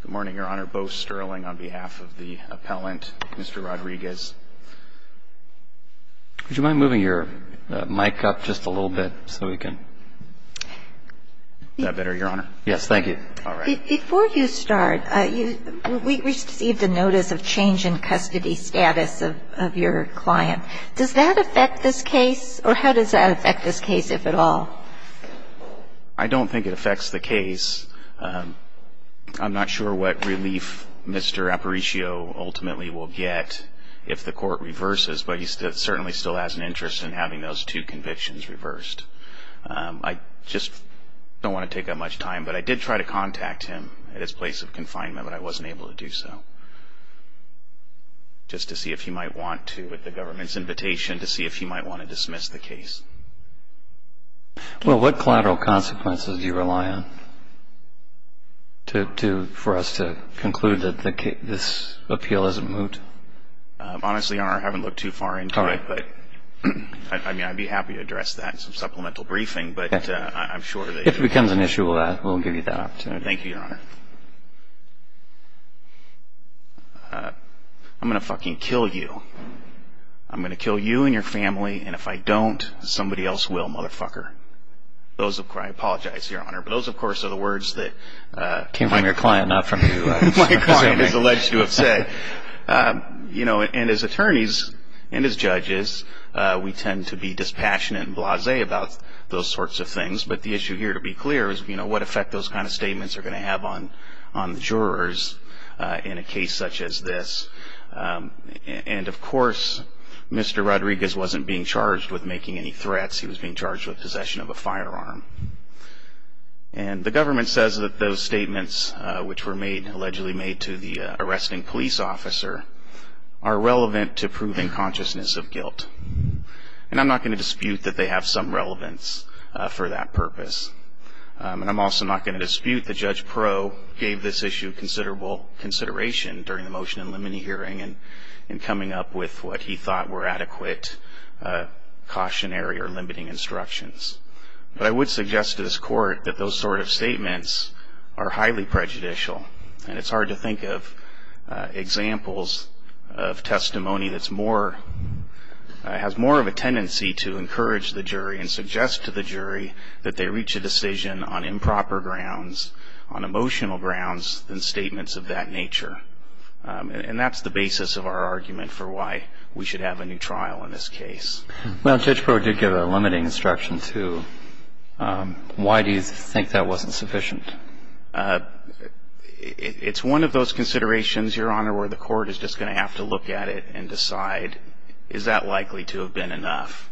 Good morning, Your Honor. Bo Sterling on behalf of the appellant, Mr. Rodriguez. Would you mind moving your mic up just a little bit so we can... Is that better, Your Honor? Yes, thank you. All right. Before you start, we received a notice of change in custody status of your client. Does that affect this case, or how does that affect this case, if at all? I don't think it affects the case. I'm not sure what relief Mr. Aparicio ultimately will get if the court reverses, but he certainly still has an interest in having those two convictions reversed. I just don't want to take up much time, but I did try to contact him at his place of confinement, but I wasn't able to do so, just to see if he might want to, with the government's invitation, to see if he might want to dismiss the case. Well, what collateral consequences do you rely on for us to conclude that this appeal isn't moot? Honestly, Your Honor, I haven't looked too far into it. All right. I mean, I'd be happy to address that in some supplemental briefing, but I'm sure that... If it becomes an issue, we'll give you that opportunity. Thank you, Your Honor. Your Honor, I'm going to fucking kill you. I'm going to kill you and your family, and if I don't, somebody else will, motherfucker. I apologize, Your Honor, but those, of course, are the words that... Came from your client, not from you. My client has alleged to have said. And as attorneys and as judges, we tend to be dispassionate and blasé about those sorts of things, but the issue here, to be clear, is what effect those kind of statements are going to have on jurors in a case such as this. And, of course, Mr. Rodriguez wasn't being charged with making any threats. He was being charged with possession of a firearm. And the government says that those statements, which were allegedly made to the arresting police officer, are relevant to proving consciousness of guilt. And I'm not going to dispute that they have some relevance for that purpose. And I'm also not going to dispute that Judge Proe gave this issue considerable consideration during the motion in limine hearing in coming up with what he thought were adequate cautionary or limiting instructions. But I would suggest to this Court that those sort of statements are highly prejudicial, and it's hard to think of examples of testimony that has more of a tendency to encourage the jury and suggest to the jury that they reach a decision on improper grounds, on emotional grounds, than statements of that nature. And that's the basis of our argument for why we should have a new trial in this case. Well, Judge Proe did give a limiting instruction, too. Why do you think that wasn't sufficient? It's one of those considerations, Your Honor, where the Court is just going to have to look at it and decide is that likely to have been enough.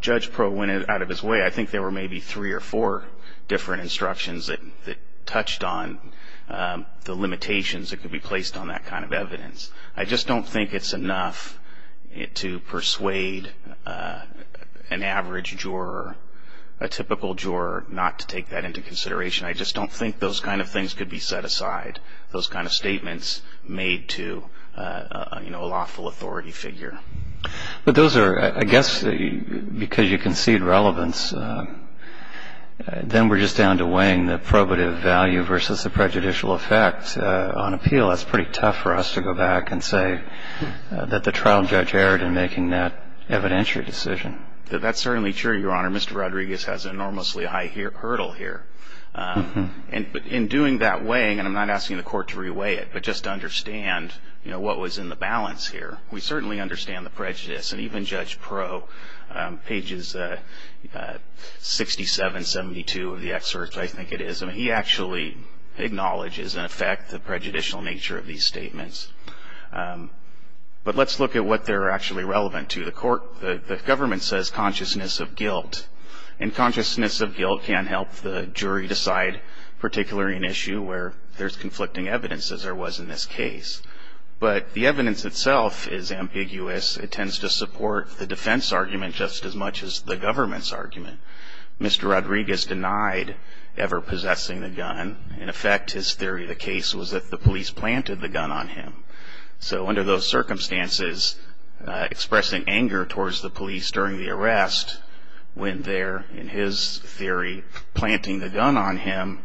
Judge Proe went out of his way. I think there were maybe three or four different instructions that touched on the limitations that could be placed on that kind of evidence. I just don't think it's enough to persuade an average juror, a typical juror, not to take that into consideration. I just don't think those kind of things could be set aside, those kind of statements made to a lawful authority figure. But those are, I guess, because you concede relevance, then we're just down to weighing the probative value versus the prejudicial effect on appeal. That's pretty tough for us to go back and say that the trial judge erred in making that evidentiary decision. That's certainly true, Your Honor. Mr. Rodriguez has an enormously high hurdle here. But in doing that weighing, and I'm not asking the Court to re-weigh it, but just to understand what was in the balance here, we certainly understand the prejudice. And even Judge Proe, pages 67, 72 of the excerpt, I think it is, he actually acknowledges in effect the prejudicial nature of these statements. But let's look at what they're actually relevant to. The Court, the government says consciousness of guilt. And consciousness of guilt can help the jury decide particularly an issue where there's conflicting evidence, as there was in this case. But the evidence itself is ambiguous. It tends to support the defense argument just as much as the government's argument. Mr. Rodriguez denied ever possessing the gun. In effect, his theory of the case was that the police planted the gun on him. So under those circumstances, expressing anger towards the police during the arrest, when they're, in his theory, planting the gun on him,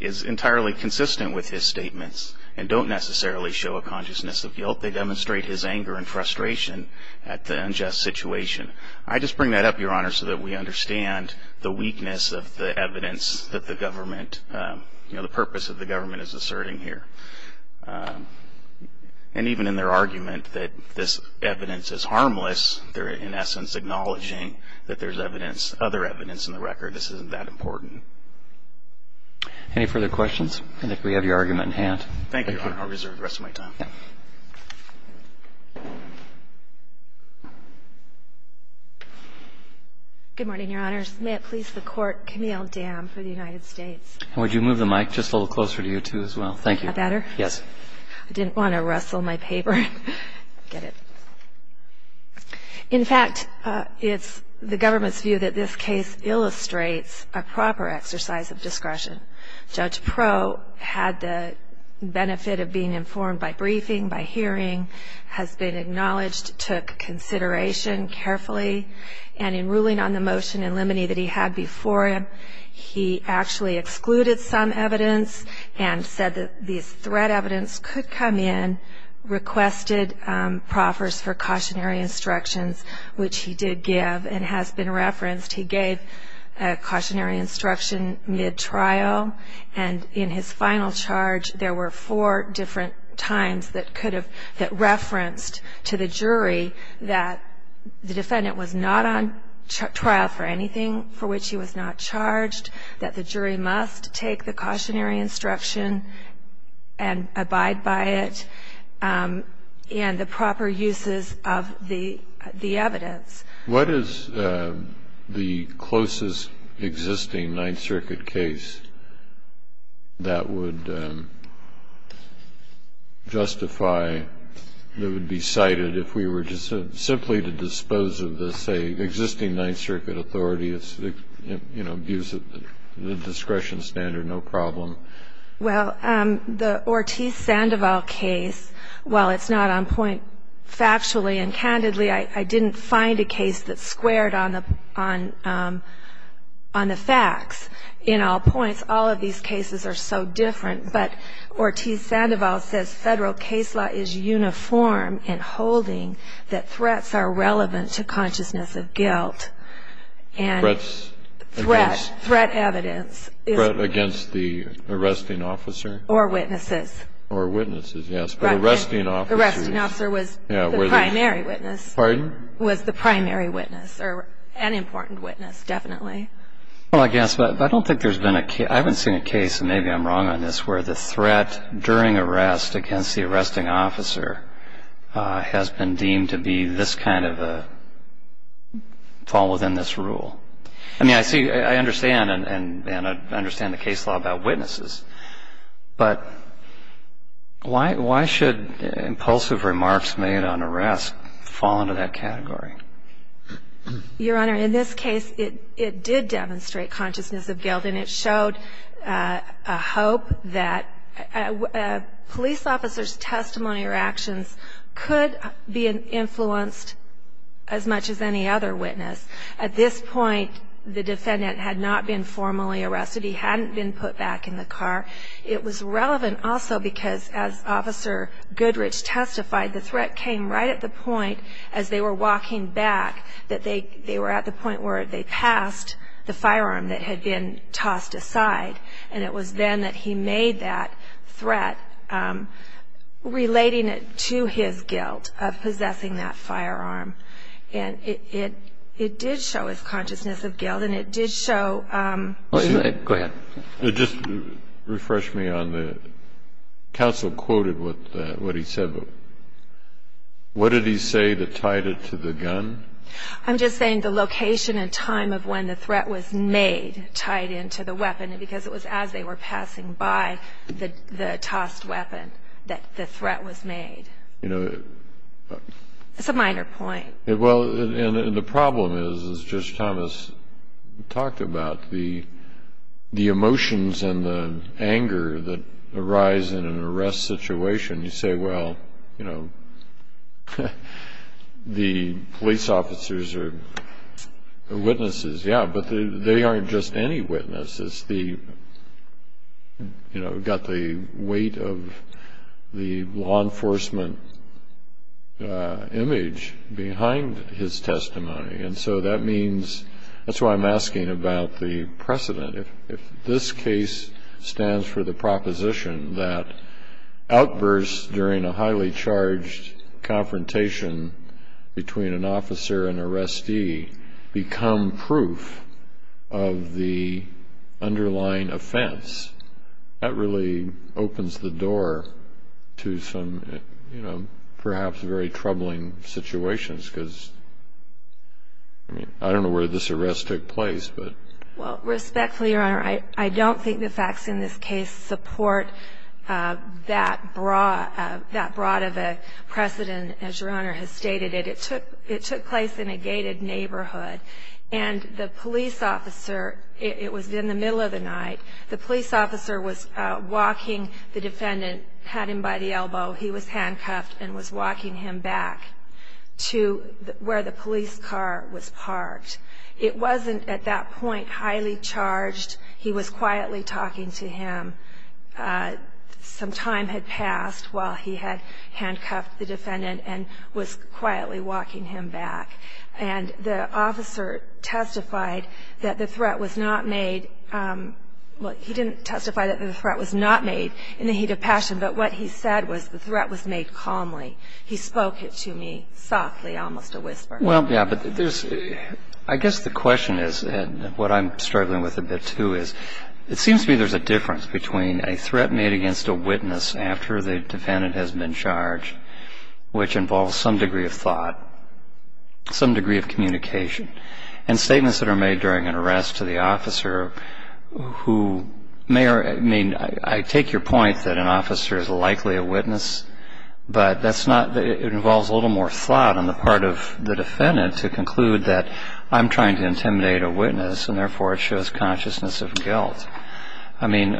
is entirely consistent with his statements and don't necessarily show a consciousness of guilt. They demonstrate his anger and frustration at the unjust situation. I just bring that up, Your Honor, so that we understand the weakness of the evidence that the government, you know, the purpose of the government is asserting here. And even in their argument that this evidence is harmless, they're in essence acknowledging that there's evidence, other evidence in the record. This isn't that important. Any further questions? I think we have your argument in hand. Thank you, Your Honor. I'll reserve the rest of my time. Yeah. Good morning, Your Honors. May it please the Court, Camille Dam for the United States. Would you move the mic just a little closer to you, too, as well? Thank you. Is that better? Yes. I didn't want to rustle my paper. I get it. In fact, it's the government's view that this case illustrates a proper exercise of discretion. Judge Proulx had the benefit of being informed by briefing, by hearing, has been acknowledged, took consideration carefully. And in ruling on the motion in limine that he had before him, he actually excluded some evidence and said that these threat evidence could come in, requested proffers for cautionary instructions, which he did give and has been referenced. He gave cautionary instruction mid-trial. And in his final charge, there were four different times that could have referenced to the jury that the defendant was not on trial for anything for which he was not charged, that the jury must take the cautionary instruction and abide by it, and the proper uses of the evidence. What is the closest existing Ninth Circuit case that would justify, that would be cited if we were just simply to dispose of the, say, existing Ninth Circuit authority? It's, you know, gives it the discretion standard, no problem. Well, the Ortiz-Sandoval case, while it's not on point factually and candidly, I didn't find a case that squared on the facts. In all points, all of these cases are so different. But Ortiz-Sandoval says Federal case law is uniform in holding that threats are relevant to consciousness of guilt. And threat, threat evidence. Threat against the arresting officer? Or witnesses. Or witnesses, yes. But arresting officers. Or was the primary witness. Pardon? Was the primary witness, or an important witness, definitely. Well, I guess, but I don't think there's been a case, I haven't seen a case, and maybe I'm wrong on this, where the threat during arrest against the arresting officer has been deemed to be this kind of a fall within this rule. I mean, I see, I understand, and I understand the case law about witnesses. But why should impulsive remarks made on arrest fall into that category? Your Honor, in this case, it did demonstrate consciousness of guilt, and it showed a hope that police officers' testimony or actions could be influenced as much as any other witness. At this point, the defendant had not been formally arrested. He hadn't been put back in the car. It was relevant also because, as Officer Goodrich testified, the threat came right at the point, as they were walking back, that they were at the point where they passed the firearm that had been tossed aside. And it was then that he made that threat, relating it to his guilt of possessing that firearm. And it did show his consciousness of guilt, and it did show. Go ahead. Just refresh me on the counsel quoted with what he said. What did he say that tied it to the gun? I'm just saying the location and time of when the threat was made tied into the weapon, because it was as they were passing by the tossed weapon that the threat was made. It's a minor point. Well, and the problem is, as Judge Thomas talked about, the emotions and the anger that arise in an arrest situation. You say, well, you know, the police officers are witnesses. Yeah, but they aren't just any witnesses. You know, got the weight of the law enforcement image behind his testimony. And so that means that's why I'm asking about the precedent. If this case stands for the proposition that outbursts during a highly charged confrontation between an officer and an arrestee become proof of the underlying offense, that really opens the door to some, you know, perhaps very troubling situations, because I don't know where this arrest took place. Well, respectfully, Your Honor, I don't think the facts in this case support that broad of a precedent as Your Honor has stated it. It took place in a gated neighborhood, and the police officer, it was in the middle of the night, the police officer was walking the defendant, had him by the elbow, he was handcuffed and was walking him back to where the police car was parked. It wasn't at that point highly charged. He was quietly talking to him. Some time had passed while he had handcuffed the defendant and was quietly walking him back. And the officer testified that the threat was not made, well, he didn't testify that the threat was not made in the heat of passion, but what he said was the threat was made calmly. He spoke it to me softly, almost a whisper. Well, yeah, but there's, I guess the question is, and what I'm struggling with a bit, too, is it seems to me there's a difference between a threat made against a witness after the defendant has been charged, which involves some degree of thought, some degree of communication, and statements that are made during an arrest to the officer who may, I mean, I take your point that an officer is likely a witness, but that's not, it involves a little more thought on the part of the defendant to conclude that I'm trying to intimidate a witness and therefore it shows consciousness of guilt. I mean,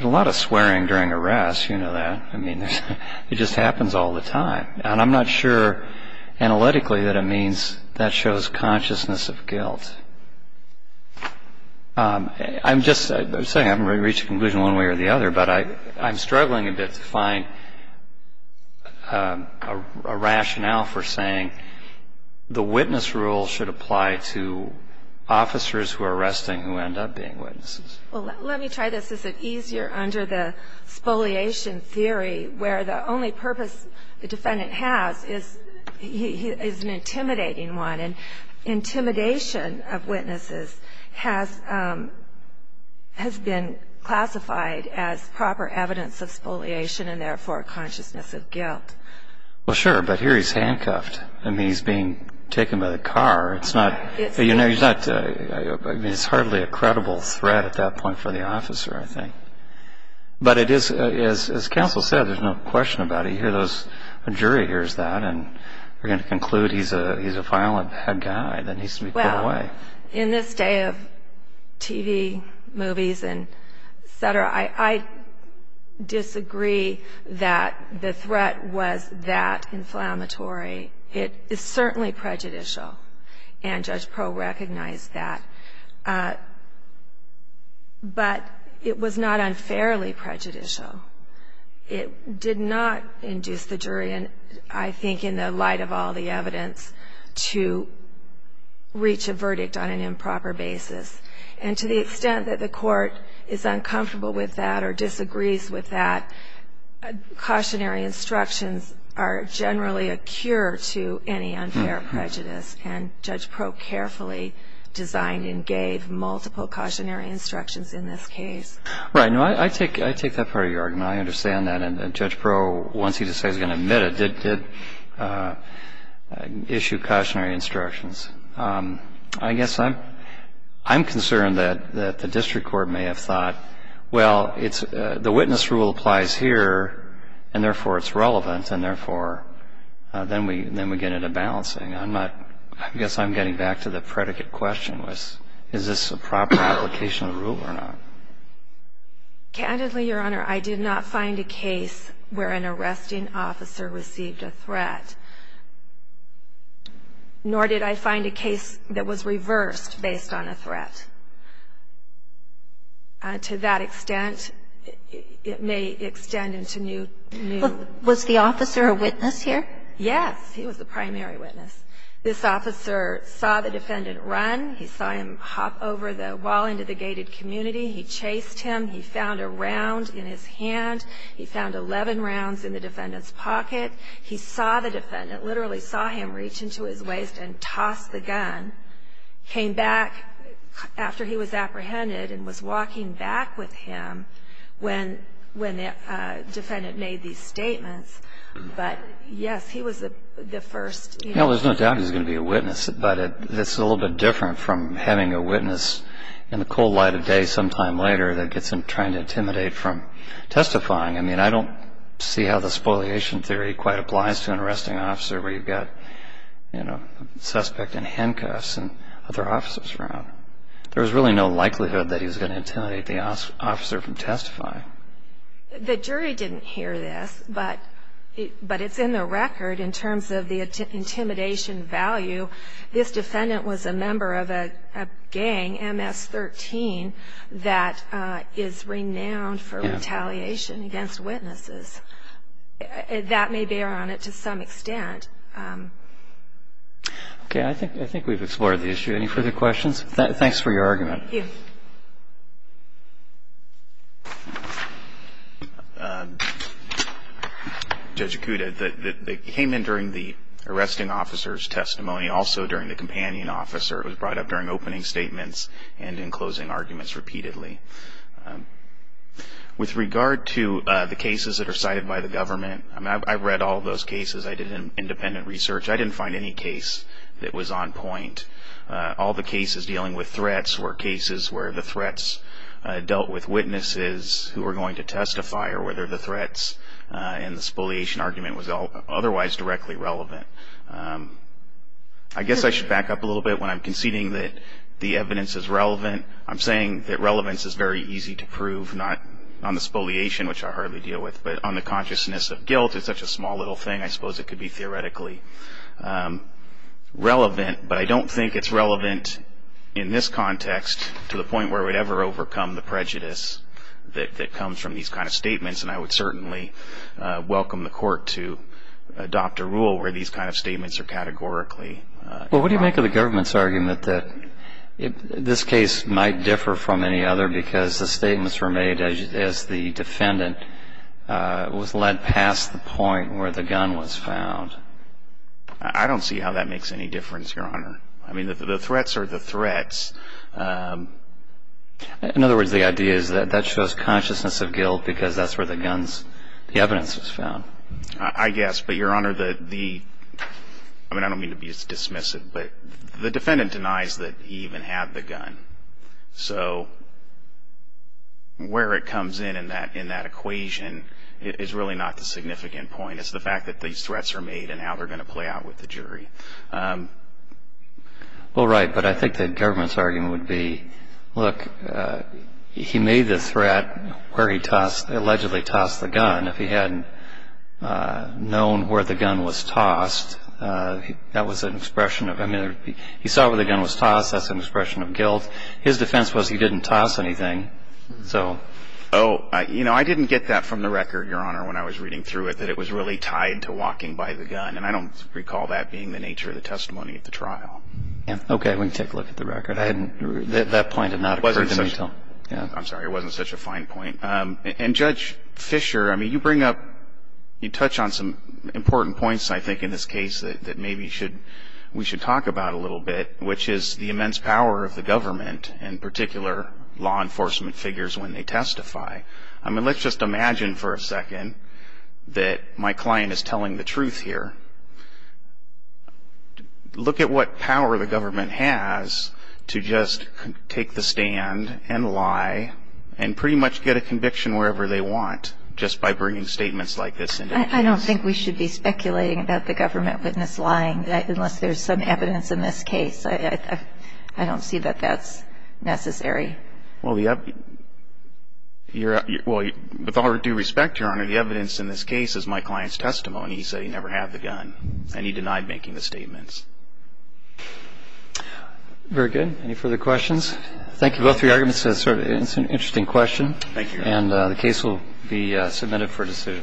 a lot of swearing during arrests, you know that. I mean, it just happens all the time. And I'm not sure analytically that it means that shows consciousness of guilt. I'm just saying, I haven't reached a conclusion one way or the other, but I'm struggling a bit to find a rationale for saying the witness rule should apply to officers who are arresting who end up being witnesses. Well, let me try this. Is it easier under the spoliation theory where the only purpose the defendant has is an intimidating one and intimidation of witnesses has been classified as proper evidence of spoliation and therefore consciousness of guilt? Well, sure, but here he's handcuffed. I mean, he's being taken by the car. It's not, you know, he's hardly a credible threat at that point for the officer, I think. But it is, as counsel said, there's no question about it. I hear those, a jury hears that and they're going to conclude he's a violent bad guy that needs to be put away. Well, in this day of TV, movies, et cetera, I disagree that the threat was that inflammatory. It is certainly prejudicial, and Judge Pro recognized that. But it was not unfairly prejudicial. It did not induce the jury, and I think in the light of all the evidence, to reach a verdict on an improper basis. And to the extent that the court is uncomfortable with that or disagrees with that, cautionary instructions are generally a cure to any unfair prejudice, and Judge Pro carefully designed and gave multiple cautionary instructions in this case. Right. I take that part of your argument. I understand that. And Judge Pro, once he decides he's going to admit it, did issue cautionary instructions. I guess I'm concerned that the district court may have thought, well, the witness rule applies here, and therefore it's relevant, and therefore then we get into balancing. I guess I'm getting back to the predicate question was, is this a proper application of rule or not? Candidly, Your Honor, I did not find a case where an arresting officer received a threat, nor did I find a case that was reversed based on a threat. To that extent, it may extend into new. Was the officer a witness here? Yes. He was the primary witness. This officer saw the defendant run. He saw him hop over the wall into the gated community. He chased him. He found a round in his hand. He found 11 rounds in the defendant's pocket. He saw the defendant, literally saw him reach into his waist and toss the gun, came back after he was apprehended and was walking back with him when the defendant made these statements. But, yes, he was the first. Well, there's no doubt he was going to be a witness, but it's a little bit different from having a witness in the cold light of day sometime later that gets him trying to intimidate from testifying. I mean, I don't see how the spoliation theory quite applies to an arresting officer where you've got a suspect in handcuffs and other officers around. There was really no likelihood that he was going to intimidate the officer from testifying. The jury didn't hear this, but it's in the record in terms of the intimidation value. This defendant was a member of a gang, MS-13, that is renowned for retaliation against witnesses. That may bear on it to some extent. Okay. I think we've explored the issue. Thanks for your argument. Thank you. Judge Acuda, they came in during the arresting officer's testimony, also during the companion officer. It was brought up during opening statements and in closing arguments repeatedly. With regard to the cases that are cited by the government, I mean, I've read all those cases. I did independent research. I didn't find any case that was on point. All the cases dealing with threats were cases where the threats dealt with witnesses who were going to testify or whether the threats in the spoliation argument was otherwise directly relevant. I guess I should back up a little bit when I'm conceding that the evidence is relevant. I'm saying that relevance is very easy to prove, not on the spoliation, which I hardly deal with, but on the consciousness of guilt. It's such a small little thing, I suppose it could be theoretically relevant, but I don't think it's relevant in this context to the point where we'd ever overcome the prejudice that comes from these kind of statements, and I would certainly welcome the court to adopt a rule where these kind of statements are categorically wrong. Well, what do you make of the government's argument that this case might differ from any other because the statements were made as the defendant was led past the point where the gun was found? I don't see how that makes any difference, Your Honor. I mean, the threats are the threats. In other words, the idea is that that shows consciousness of guilt because that's where the evidence was found. I guess, but Your Honor, I don't mean to be dismissive, but the defendant denies that he even had the gun, so where it comes in in that equation is really not the significant point. It's the fact that these threats are made and how they're going to play out with the jury. Well, right, but I think the government's argument would be, look, he made the threat where he allegedly tossed the gun. If he hadn't known where the gun was tossed, that was an expression of, I mean, he saw where the gun was tossed, that's an expression of guilt. His defense was he didn't toss anything, so. Oh, you know, I didn't get that from the record, Your Honor, when I was reading through it, that it was really tied to walking by the gun, and I don't recall that being the nature of the testimony at the trial. Okay, we can take a look at the record. I hadn't, that point had not occurred to me until, yeah. I'm sorry, it wasn't such a fine point. And, Judge Fischer, I mean, you bring up, you touch on some important points, I think, in this case that maybe we should talk about a little bit, which is the immense power of the government and particular law enforcement figures when they testify. I mean, let's just imagine for a second that my client is telling the truth here. Look at what power the government has to just take the stand and lie and pretty much get a conviction wherever they want just by bringing statements like this into the case. I don't think we should be speculating about the government witness lying, unless there's some evidence in this case. I don't see that that's necessary. Well, with all due respect, Your Honor, the evidence in this case is my client's testimony. He said he never had the gun, and he denied making the statements. Very good. Any further questions? Thank you both for your arguments. It's an interesting question. Thank you. And the case will be submitted for dissent.